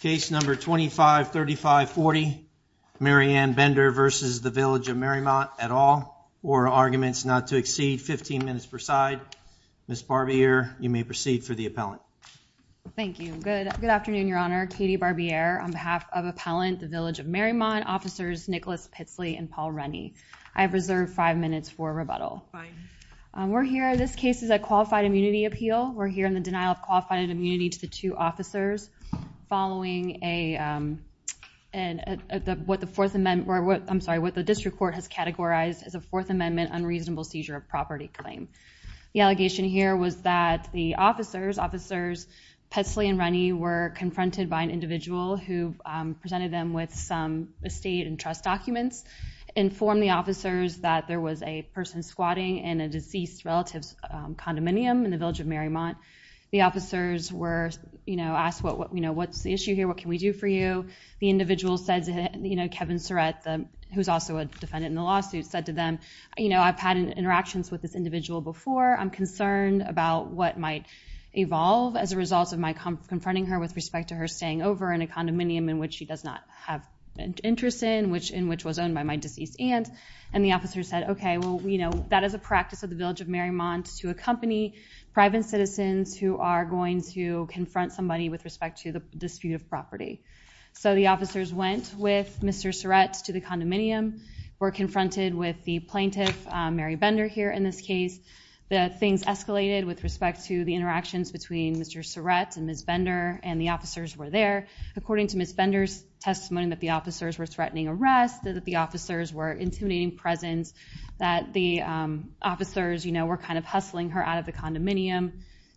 Case number 253540, Mary Ann Bender v. Village of Mariemont, et al., or Arguments Not to Exceed, 15 minutes per side. Ms. Barbier, you may proceed for the appellant. Thank you. Good afternoon, Your Honor. Katie Barbier on behalf of Appellant, the Village of Mariemont, Officers Nicholas Pitsley and Paul Rennie. I have reserved five minutes for rebuttal. We're here, this case is a qualified immunity appeal. We're here in the denial of qualified immunity to the two officers. Following what the District Court has categorized as a Fourth Amendment unreasonable seizure of property claim. The allegation here was that the officers, Officers Pitsley and Rennie, were confronted by an individual who presented them with some estate and trust documents, informed the officers that there was a person squatting in a deceased relative's condominium in the Village of Mariemont. The officers were, you know, asked, you know, what's the issue here, what can we do for you? The individual said, you know, Kevin Surratt, who is also a defendant in the lawsuit, said to them, you know, I've had interactions with this individual before, I'm concerned about what might evolve as a result of my confronting her with respect to her staying over in a condominium in which she does not have interest in, in which was owned by my deceased aunt. And the officers said, okay, well, you know, that is a practice of the Village of Mariemont to accompany private citizens who are going to confront somebody with respect to the dispute of property. So the officers went with Mr. Surratt to the condominium, were confronted with the plaintiff, Mary Bender, here in this case. The things escalated with respect to the interactions between Mr. Surratt and Ms. Bender, and the officers were there. According to Ms. Bender's testimony that the officers were threatening arrest, that the officers were intimidating presence, that the officers, you know, were kind of hustling her out of the condominium.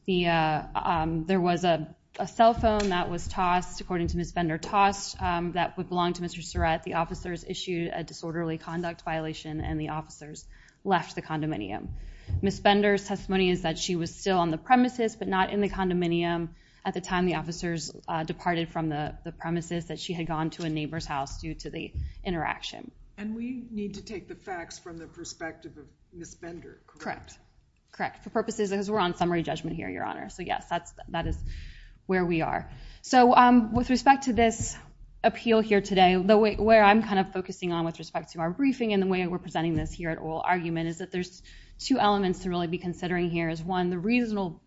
There was a cell phone that was tossed, according to Ms. Bender, tossed that would belong to Mr. Surratt. The officers issued a disorderly conduct violation, and the officers left the condominium. Ms. Bender's testimony is that she was still on the premises, but not in the condominium. At the time, the officers departed from the premises, that she had gone to a neighbor's house due to the interaction. And we need to take the facts from the perspective of Ms. Bender, correct? Correct. Correct. For purposes, because we're on summary judgment here, Your Honor. So yes, that is where we are. So with respect to this appeal here today, where I'm kind of focusing on with respect to our briefing and the way we're presenting this here at oral argument is that there's two elements to really be considering here is, one, the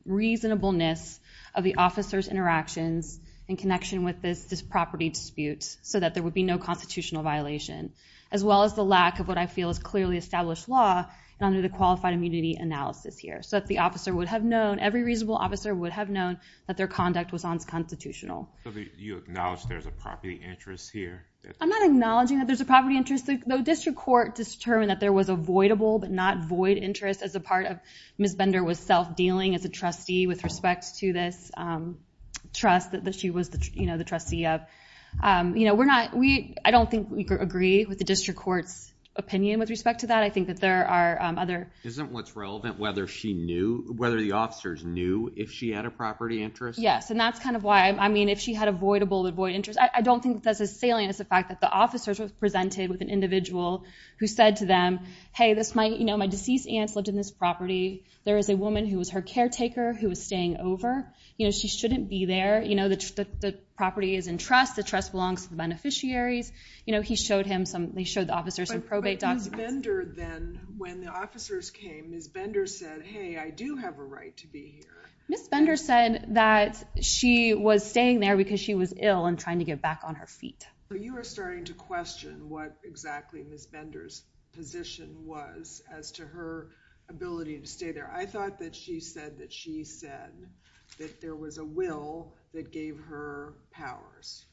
reasonableness of the officers' interactions in connection with this property dispute, so that there would be no constitutional violation, as well as the lack of what I feel is clearly established law under the qualified immunity analysis here, so that the officer would have known, every reasonable officer would have known that their conduct was unconstitutional. So you acknowledge there's a property interest here? I'm not acknowledging that there's a property interest. The district court determined that there was a voidable but not void interest as a part of Ms. Bender was self-dealing as a trustee with respect to this trust that she was the trustee of. I don't think we could agree with the district court's opinion with respect to that. I think that there are other— Isn't what's relevant whether the officers knew if she had a property interest? Yes, and that's kind of why—I mean, if she had a voidable but void interest. I don't think that's as salient as the fact that the officers were presented with an individual who said to them, hey, my deceased aunt lived in this property. There is a woman who was her caretaker who was staying over. She shouldn't be there. The property is in trust. The trust belongs to the beneficiaries. He showed him some—they showed the officers some probate documents. But Ms. Bender then, when the officers came, Ms. Bender said, hey, I do have a right to be here. Ms. Bender said that she was staying there because she was ill and trying to get back on her feet. You are starting to question what exactly Ms. Bender's position was as to her ability to stay there. I thought that she said that she said that there was a will that gave her powers.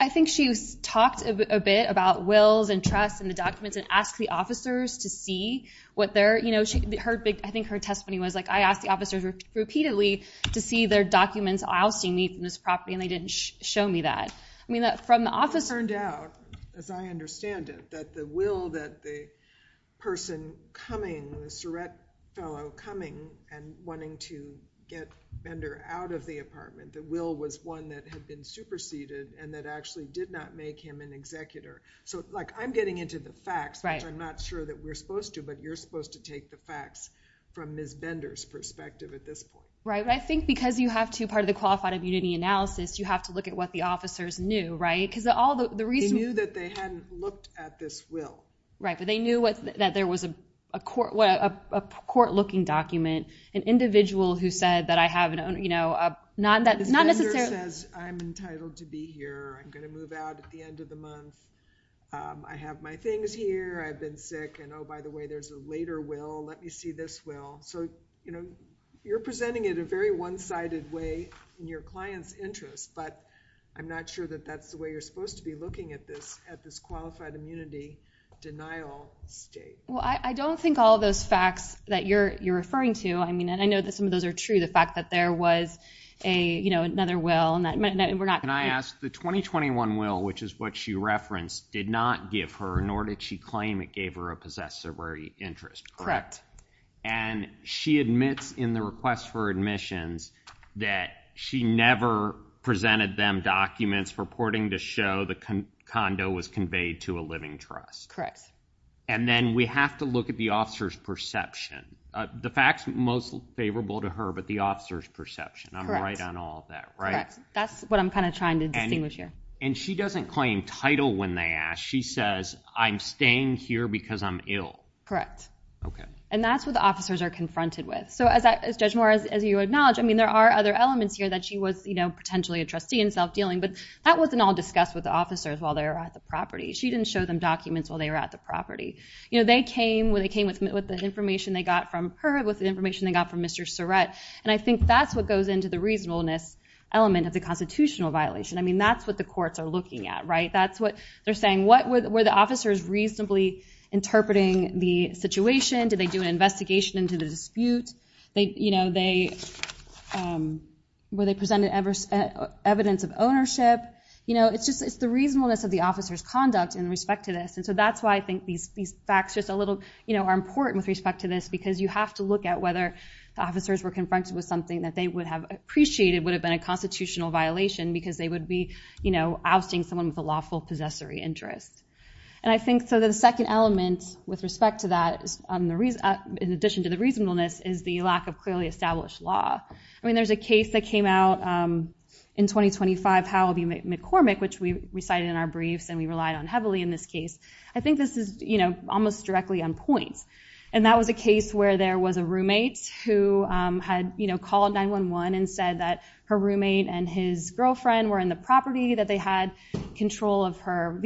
I think she talked a bit about wills and trusts and the documents and asked the officers to see what their— I think her testimony was, I asked the officers repeatedly to see their documents ousting me from this property, and they didn't show me that. It turned out, as I understand it, that the will that the person coming, the Surrett fellow coming and wanting to get Bender out of the apartment, the will was one that had been superseded and that actually did not make him an executor. I'm getting into the facts, which I'm not sure that we're supposed to, but you're supposed to take the facts from Ms. Bender's perspective at this point. Right, but I think because you have to, part of the qualified immunity analysis, you have to look at what the officers knew, right? They knew that they hadn't looked at this will. Right, but they knew that there was a court-looking document, an individual who said that I have— Ms. Bender says, I'm entitled to be here. I'm going to move out at the end of the month. I have my things here. I've been sick, and oh, by the way, there's a later will. Let me see this will. So, you know, you're presenting it in a very one-sided way in your client's interest, but I'm not sure that that's the way you're supposed to be looking at this, at this qualified immunity denial state. Well, I don't think all of those facts that you're referring to, I mean, and I know that some of those are true, the fact that there was a, you know, another will. Can I ask, the 2021 will, which is what she referenced, did not give her, nor did she claim it gave her a possessory interest. And she admits in the request for admissions that she never presented them documents purporting to show the condo was conveyed to a living trust. Correct. And then we have to look at the officer's perception. The facts most favorable to her, but the officer's perception. I'm right on all that, right? Correct. That's what I'm kind of trying to distinguish here. And she doesn't claim title when they ask. She says, I'm staying here because I'm ill. Okay. And that's what the officers are confronted with. So, as Judge Moore, as you acknowledge, I mean, there are other elements here that she was, you know, potentially a trustee in self-dealing, but that wasn't all discussed with the officers while they were at the property. She didn't show them documents while they were at the property. You know, they came with the information they got from her, with the information they got from Mr. Surrett, and I think that's what goes into the reasonableness element of the constitutional violation. I mean, that's what the courts are looking at, right? That's what they're saying. Were the officers reasonably interpreting the situation? Did they do an investigation into the dispute? You know, were they presenting evidence of ownership? You know, it's just the reasonableness of the officer's conduct in respect to this, and so that's why I think these facts are important with respect to this, because you have to look at whether the officers were confronted with something that they would have appreciated would have been a constitutional violation because they would be, you know, ousting someone with a lawful possessory interest. And I think, so the second element with respect to that, in addition to the reasonableness, is the lack of clearly established law. I mean, there's a case that came out in 2025, Howell v. McCormick, which we recited in our briefs and we relied on heavily in this case. I think this is, you know, almost directly on point, and that was a case where there was a roommate who had, you know, called 911 and said that her roommate and his girlfriend were in the property, that they had control of her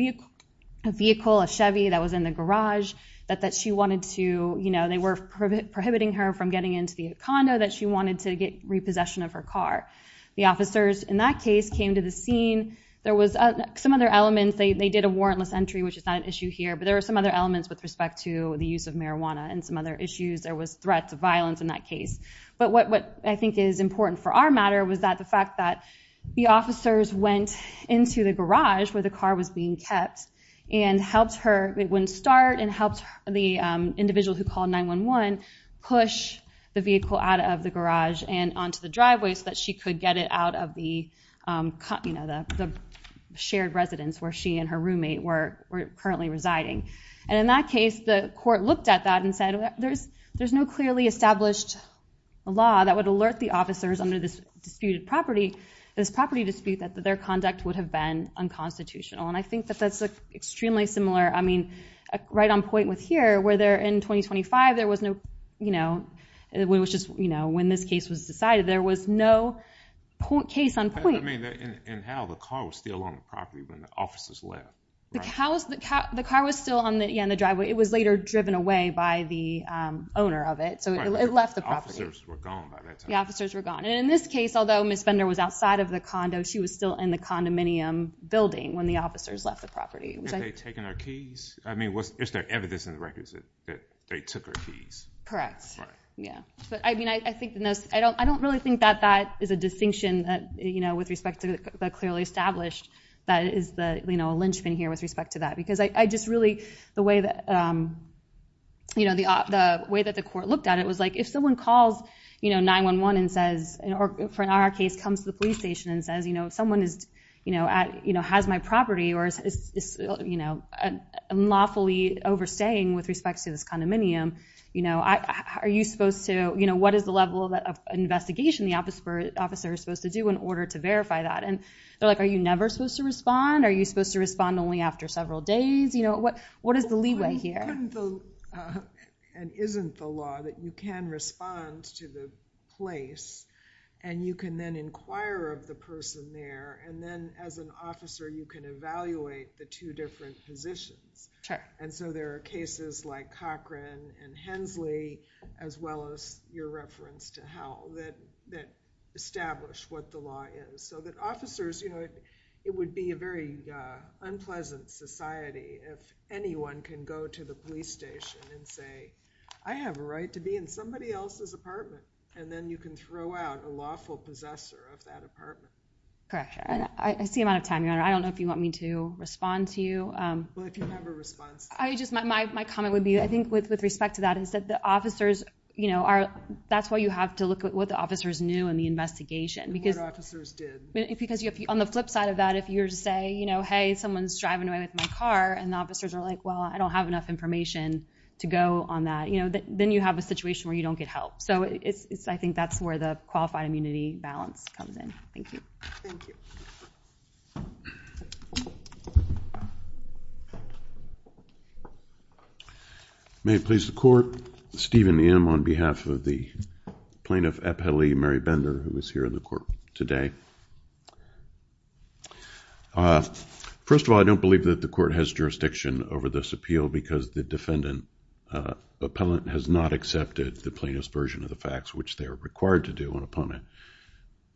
vehicle, a Chevy that was in the garage, that she wanted to, you know, they were prohibiting her from getting into the condo, that she wanted to get repossession of her car. The officers in that case came to the scene. There was some other elements. They did a warrantless entry, which is not an issue here, but there were some other elements with respect to the use of marijuana and some other issues. There was threats of violence in that case. But what I think is important for our matter was that the fact that the officers went into the garage where the car was being kept and helped her, it wouldn't start and helped the individual who called 911 push the vehicle out of the garage and onto the driveway so that she could get it out of the, you know, shared residence where she and her roommate were currently residing. And in that case, the court looked at that and said, there's no clearly established law that would alert the officers under this disputed property, this property dispute, that their conduct would have been unconstitutional. And I think that that's extremely similar, I mean, right on point with here, where in 2025 there was no, you know, when this case was decided, there was no case on point. I mean, and how the car was still on the property when the officers left. The car was still on the driveway. It was later driven away by the owner of it, so it left the property. The officers were gone by that time. The officers were gone. And in this case, although Ms. Bender was outside of the condo, she was still in the condominium building when the officers left the property. Had they taken her keys? I mean, is there evidence in the records that they took her keys? Correct. Yeah. But, I mean, I don't really think that that is a distinction that, you know, with respect to the clearly established, that is the, you know, a lynchpin here with respect to that. Because I just really, the way that, you know, the way that the court looked at it was like, if someone calls, you know, 911 and says, or in our case, comes to the police station and says, you know, someone is, you know, has my property or is, you know, lawfully overstaying with respect to this condominium, you know, are you supposed to, you know, what is the level of investigation the officer is supposed to do in order to verify that? And they're like, are you never supposed to respond? Are you supposed to respond only after several days? You know, what is the leeway here? Well, couldn't the, and isn't the law that you can respond to the place and you can then inquire of the person there, and then as an officer you can evaluate the two different positions. Sure. And so there are cases like Cochran and Hensley, as well as your reference to Howell that establish what the law is. So that officers, you know, it would be a very unpleasant society if anyone can go to the police station and say, I have a right to be in somebody else's apartment. And then you can throw out a lawful possessor of that apartment. Correct. I see I'm out of time, Your Honor. I don't know if you want me to respond to you. Well, if you have a response. My comment would be, I think, with respect to that, is that the officers, you know, that's why you have to look at what the officers knew in the investigation. And what officers did. Because on the flip side of that, if you were to say, you know, hey, someone's driving away with my car, and the officers are like, well, I don't have enough information to go on that, then you have a situation where you don't get help. So I think that's where the qualified immunity balance comes in. Thank you. Thank you. May it please the Court, Stephen M. on behalf of the Plaintiff Appellee, Mary Bender, who is here in the Court today. First of all, I don't believe that the Court has jurisdiction over this appeal because the defendant, the appellant, has not accepted the plaintiff's version of the facts, which they are required to do upon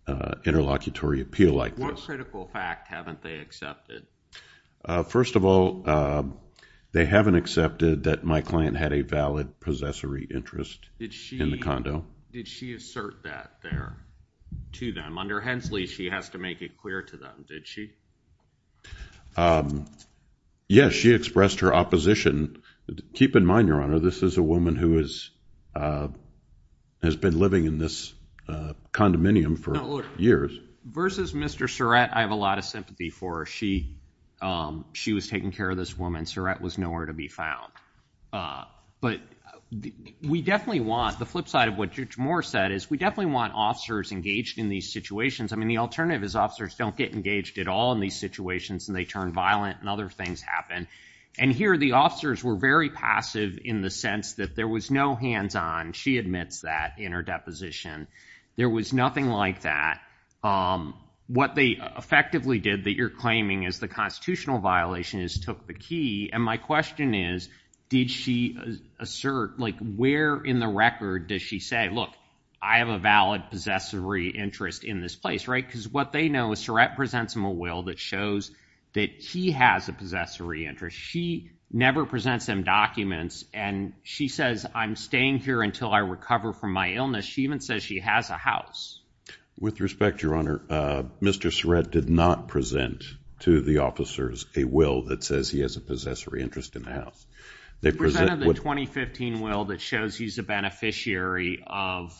an interlocutory appeal like this. What critical fact haven't they accepted? First of all, they haven't accepted that my client had a valid possessory interest in the condo. Did she assert that there to them? Under Hensley, she has to make it clear to them, did she? Yes, she expressed her opposition. Keep in mind, Your Honor, this is a woman who has been living in this condominium for years. Versus Mr. Surratt, I have a lot of sympathy for her. She was taking care of this woman. Surratt was nowhere to be found. But we definitely want, the flip side of what Judge Moore said is we definitely want officers engaged in these situations. I mean, the alternative is officers don't get engaged at all in these situations and they turn violent and other things happen. And here the officers were very passive in the sense that there was no hands-on. She admits that in her deposition. There was nothing like that. What they effectively did that you're claiming is the constitutional violation is took the key. And my question is, did she assert, like where in the record does she say, look, I have a valid possessory interest in this place, right? Because what they know is Surratt presents them a will that shows that she has a possessory interest. She never presents them documents. And she says, I'm staying here until I recover from my illness. She even says she has a house. With respect to your honor. Mr. Surratt did not present to the officers, a will that says he has a possessory interest in the house. They presented the 2015 will that shows he's a beneficiary of.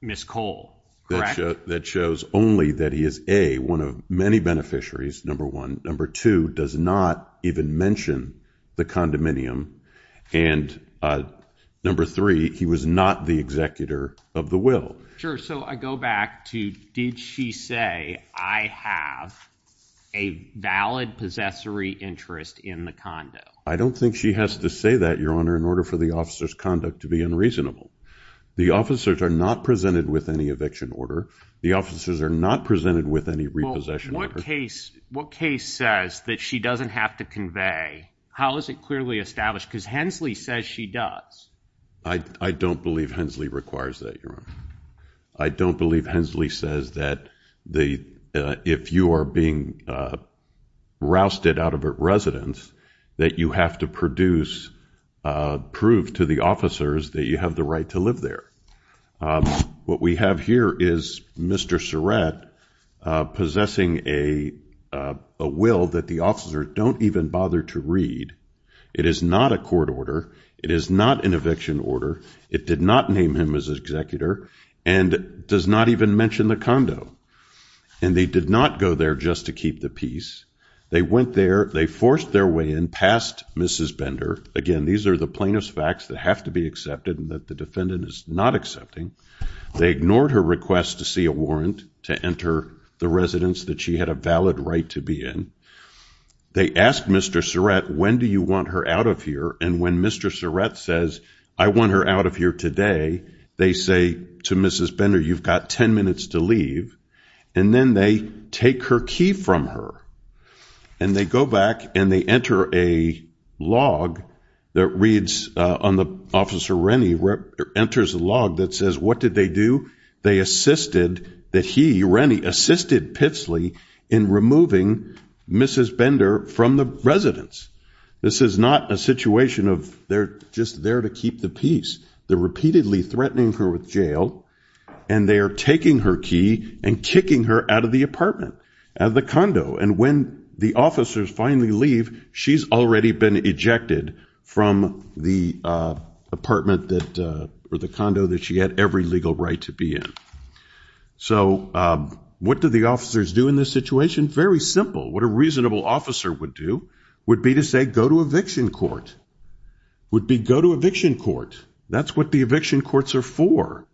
Ms. Cole. That shows only that he is a, one of many beneficiaries. Number one, number two does not even mention the condominium. And number three, he was not the executor of the will. Sure. So I go back to, did she say, I have a valid possessory interest in the condo. I don't think she has to say that your honor, in order for the officer's conduct to be unreasonable, the officers are not presented with any eviction order. The officers are not presented with any repossession. What case, what case says that she doesn't have to convey. How is it clearly established? Cause Hensley says she does. I don't believe Hensley requires that your honor. I don't believe Hensley says that the, if you are being rousted out of residence, that you have to produce a proof to the officers that you have the right to live there. What we have here is Mr. Surrett possessing a, a will that the officer don't even bother to read. It is not a court order. It is not an eviction order. It did not name him as executor and does not even mention the condo. And they did not go there just to keep the peace. They went there, they forced their way in past Mrs. Bender. Again, these are the plainest facts that have to be accepted and that the defendant is not accepting. They ignored her request to see a warrant, to enter the residence that she had a valid right to be in. They asked Mr. Surrett, when do you want her out of here? And when Mr. Surrett says, I want her out of here today. They say to Mrs. Bender, you've got 10 minutes to leave. And then they take her key from her and they go back and they enter a log that reads on the officer. And then Mr. Rennie enters a log that says, what did they do? They assisted that he, Rennie assisted Pitsley in removing Mrs. Bender from the residence. This is not a situation of they're just there to keep the peace. They're repeatedly threatening her with jail and they are taking her key and kicking her out of the apartment, out of the condo. And when the officers finally leave, she's already been ejected from the apartment that, or the condo that she had every legal right to be in. So what do the officers do in this situation? Very simple. What a reasonable officer would do would be to say, go to eviction court. Would be go to eviction court. That's what the eviction courts are for.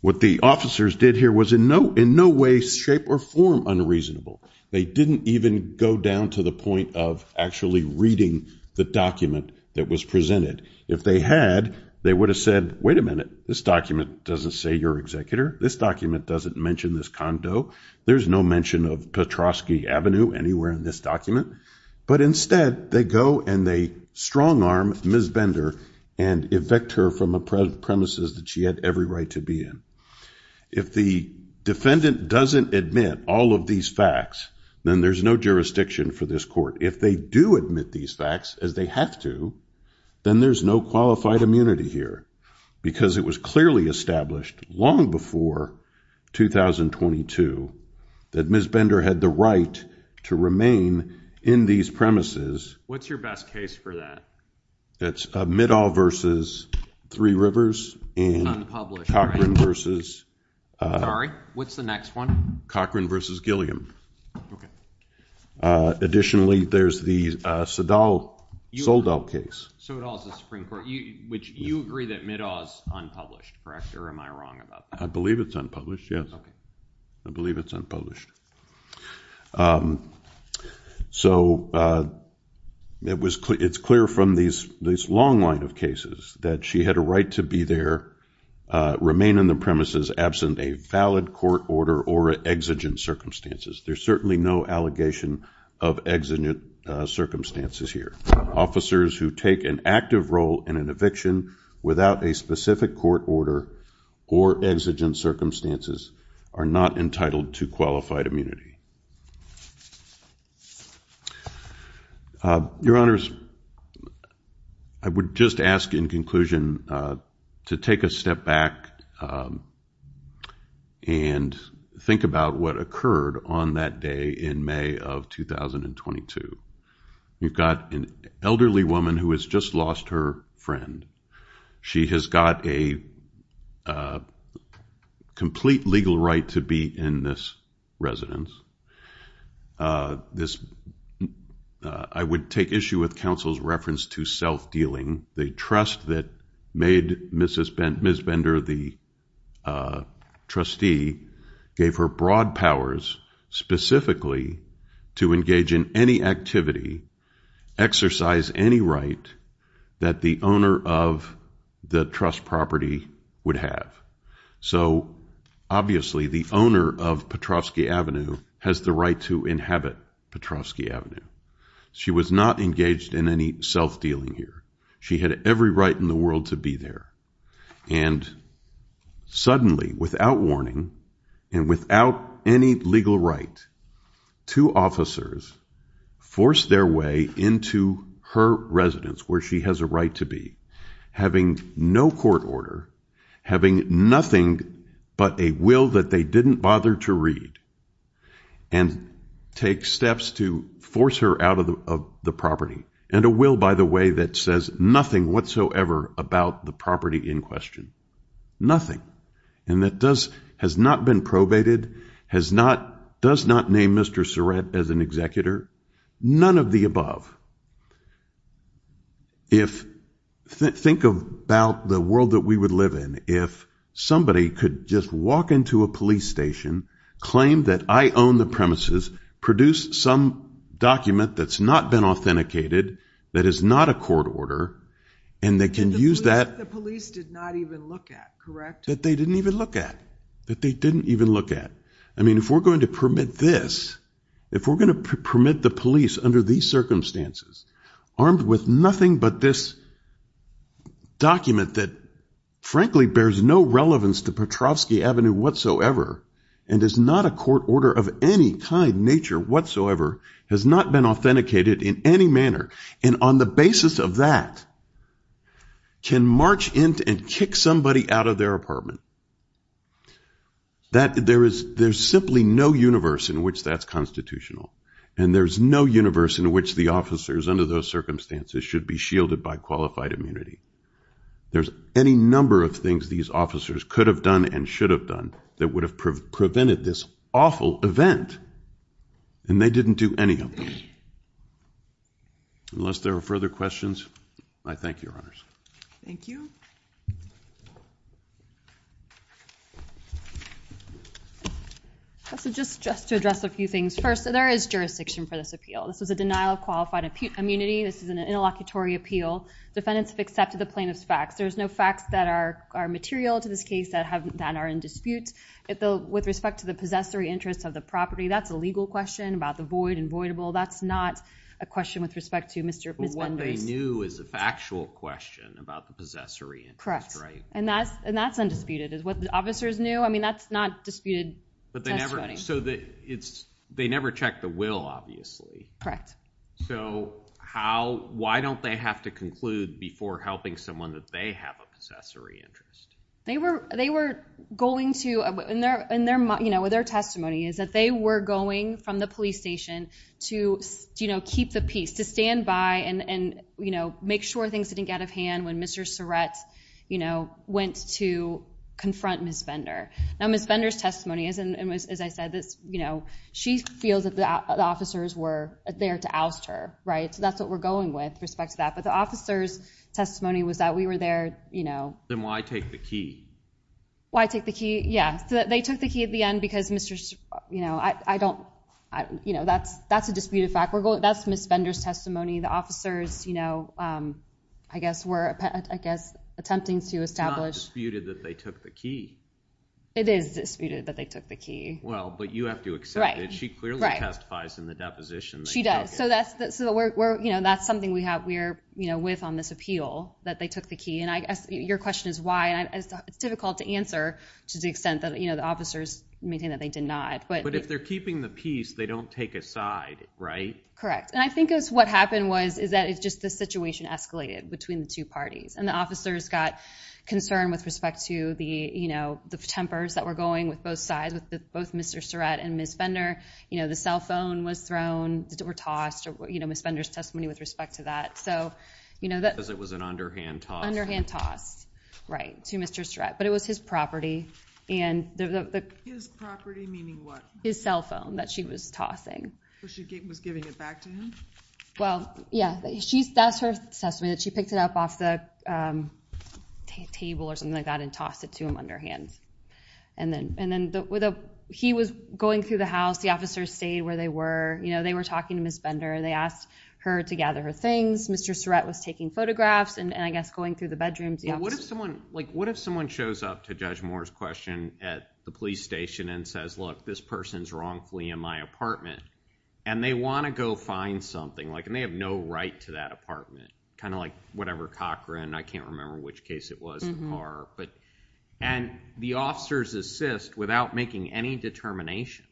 What the officers did here was in no, in no way shape or form unreasonable. They didn't even go down to the point of actually reading the document that was presented. If they had, they would have said, wait a minute, this document doesn't say your executor. This document doesn't mention this condo. There's no mention of Petrosky Avenue anywhere in this document, but instead they go and they strong arm, Ms. Bender and effect her from a prep premises that she had every right to be in. If the defendant doesn't admit all of these facts, then there's no jurisdiction for this court. If they do admit these facts as they have to, then there's no qualified immunity here because it was clearly established long before 2022 that Ms. Bender had the right to remain in these premises. What's your best case for that? It's a Middall versus three rivers and Cochran versus. Sorry. What's the next one? Cochran versus Gilliam. Okay. Additionally, there's the, uh, Sadal sold out case. So it all is the Supreme court, which you agree that Middall is unpublished, correct? Or am I wrong about that? I believe it's unpublished. Yes. Okay. I believe it's unpublished. Um, so, uh, it was clear, it's clear from these, this long line of cases that she had a right to be there, remain in the premises, absent a valid court order or exigent circumstances. There's certainly no allegation of exigent circumstances here. Officers who take an active role in an eviction without a specific court order or exigent circumstances are not entitled to qualified immunity. Uh, your honors, I would just ask in conclusion, uh, to take a step back, um, and think about what occurred on that day in May of 2022. You've got an elderly woman who has just lost her friend. She has got a, uh, complete legal right to be in this residence. Uh, this, uh, I would take issue with counsel's reference to self-dealing. The trust that made Mrs. Ben, Ms. Bender, the, uh, trustee gave her broad powers specifically to engage in any activity, exercise any right that the owner of the trust property would have. So obviously the owner of Petrovsky Avenue has the right to inhabit Petrovsky Avenue. She was not engaged in any self-dealing here. She had every right in the world to be there. And suddenly without warning and without any legal right to officers force their way into her residence where she has a right to be having no court order, having nothing but a will that they didn't bother to read and take steps to force her out of the, of the property and a will, by the way, that says nothing whatsoever about the property in question, nothing. And that does, has not been probated, has not, does not name Mr. Surratt as an executor, none of the above. If think about the world that we would live in, if somebody could just walk into a police station, claim that I own the premises, produce some document that's not been authenticated, that is not a court order. And they can use that. The police did not even look at correct. That they didn't even look at, that they didn't even look at. I mean, if we're going to permit this, if we're going to permit the police under these circumstances, armed with nothing but this document that frankly bears no relevance to Petrovsky Avenue whatsoever, and is not a court order of any kind nature whatsoever has not been authenticated in any manner. And on the basis of that can march into and kick somebody out of their apartment. That there is, there's simply no universe in which that's constitutional. And there's no universe in which the officers under those circumstances should be shielded by qualified immunity. There's any number of things these officers could have done and should have done that would have prevented this awful event. And they didn't do any of them. Unless there are further questions. I thank you, Thank you. Just to address a few things. First, there is jurisdiction for this appeal. This is a denial of qualified immunity. This is an interlocutory appeal. Defendants have accepted the plaintiff's facts. There's no facts that are material to this case that are in dispute. With respect to the possessory interest of the property, that's a legal question about the void and voidable. That's not a question with respect to Mr. and Ms. Benders. What they knew is a factual question about the possessory interest, right? And that's undisputed. It's what the officers knew. I mean, that's not disputed testimony. They never checked the will, obviously. Correct. So, how, why don't they have to conclude before helping someone that they have a possessory interest? Their testimony is that they were going from the police station to keep the peace, to stand by and make sure things didn't get out of hand when Mr. Surratt, you know, went to confront Ms. Now, Ms. Bender's testimony, as I said, she feels that the officers were there to oust her, right? So, that's what we're going with respect to that. But the officer's testimony was that we were there, you know. Then why take the key? Why take the key? Yeah. So, they took the key at the end because Mr., you know, I don't, you know, that's a disputed fact. That's Ms. Bender's testimony. The officers, you know, were, I guess, were, attempting to establish. It's not disputed that they took the key. It is disputed that they took the key. Well, but you have to accept it. She clearly testifies in the deposition. She does. that's the, so we're, we're, you know, that's something we have, we're, with on this appeal, that they took the key. And I guess your question is why. It's difficult to answer to the extent that, you know, the officers maintain that they did not. But if they're keeping the peace, they don't take a side, right? Correct. And I think it was what happened was, is that it's just the situation escalated between the two parties. And the officers got concerned with respect to the, you know, the tempers that were going with both sides, with both Mr. Surratt and Ms. Bender. You know, the cell phone was thrown, were tossed, or, Ms. Bender's testimony with respect to that. you know, that. Because it was an underhand toss. Underhand toss. Right. To Mr. Surratt, but it was his property. And the. His property, meaning what? His cell phone that she was tossing. So she was giving it back to him? Well, yeah, she's, that's her testimony that she picked it up off the table or something like that and tossed it to him underhand. And then, and then the, he was going through the house. The officers stayed where they were, you know, they were talking to Ms. Bender and they asked her to gather her things. Mr. Surratt was taking photographs and I guess going through the bedrooms. Yeah. What if someone like, what if someone shows up to judge Moore's question at the police station and says, this person's wrongfully in my apartment and they want to go find something like, and they have no right to that apartment, kind of like whatever Cochran, I can't remember which case it was in the car, but. And the officers assist without making any determination.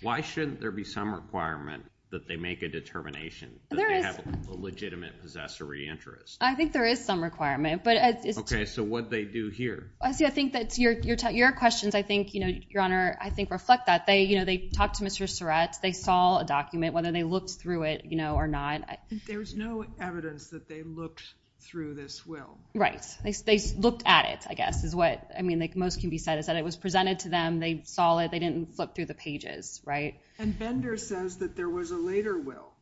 Why shouldn't there be some requirement that they make a determination that they have a legitimate possessory interest? I think there is some requirement, but it's okay. So what they do here, I see. I think that's your, your tech, your questions. I think, you know, your honor, I think reflect that they, you know, they talked to Mr. Surratt, they saw a document, whether they looked through it, you know, or not. There was no evidence that they looked through this. Well, right. They looked at it, I guess is what I mean. Like most can be said is that it was presented to them. They saw it. They didn't flip through the pages. Right. And Bender says that there was a later will.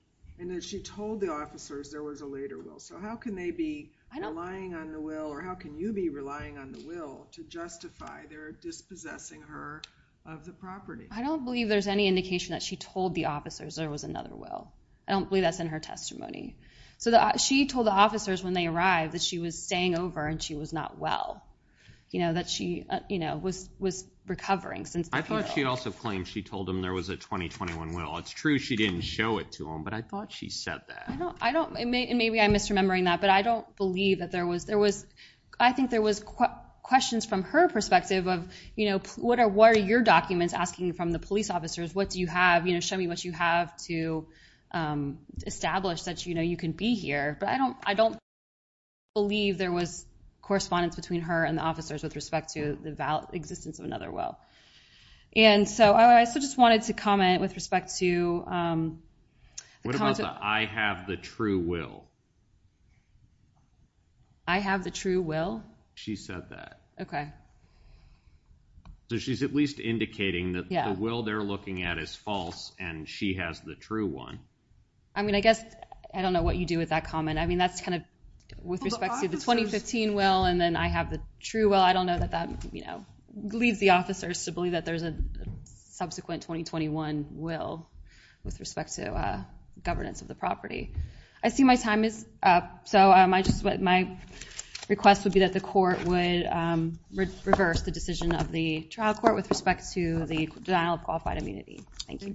And as she told the officers, there was a later will. So how can they be relying on the will or how can you be relying on the will to justify their dispossessing her of the property? I don't believe there's any indication that she told the officers there was another will. I don't believe that's in her testimony. So the, she told the officers when they arrived that she was staying over and she was not well, you know, that she, you know, was, was recovering since. I thought she also claimed she told him there was a 2021 will. It's true. She didn't show it to him, but I thought she said that. I don't, I don't, it may, and maybe I misremembered it, but I don't believe that there was, I think there was questions from her perspective of, you know, what are, what are your documents asking from the police officers? What do you have, you know, show me what you have to establish that, you know, you can be here, but I don't, I don't believe there was correspondence between her and the officers with respect to the valid existence of another will. And so I, I still just wanted to comment with respect to. I have the true will. I have the true will. She said that. Okay. So she's at least indicating that the will they're looking at is false and she has the true one. I mean, I guess I don't know what you do with that comment. I mean, that's kind of with respect to the 2015 will, and then I have the true. Well, I don't know that that, you know, leads the officers to believe that there's a subsequent 2021 will. With respect to a governance of the property. I see my time is up. So I just, my request would be that the court would reverse the decision of the trial court with respect to the denial of qualified immunity. Thank you.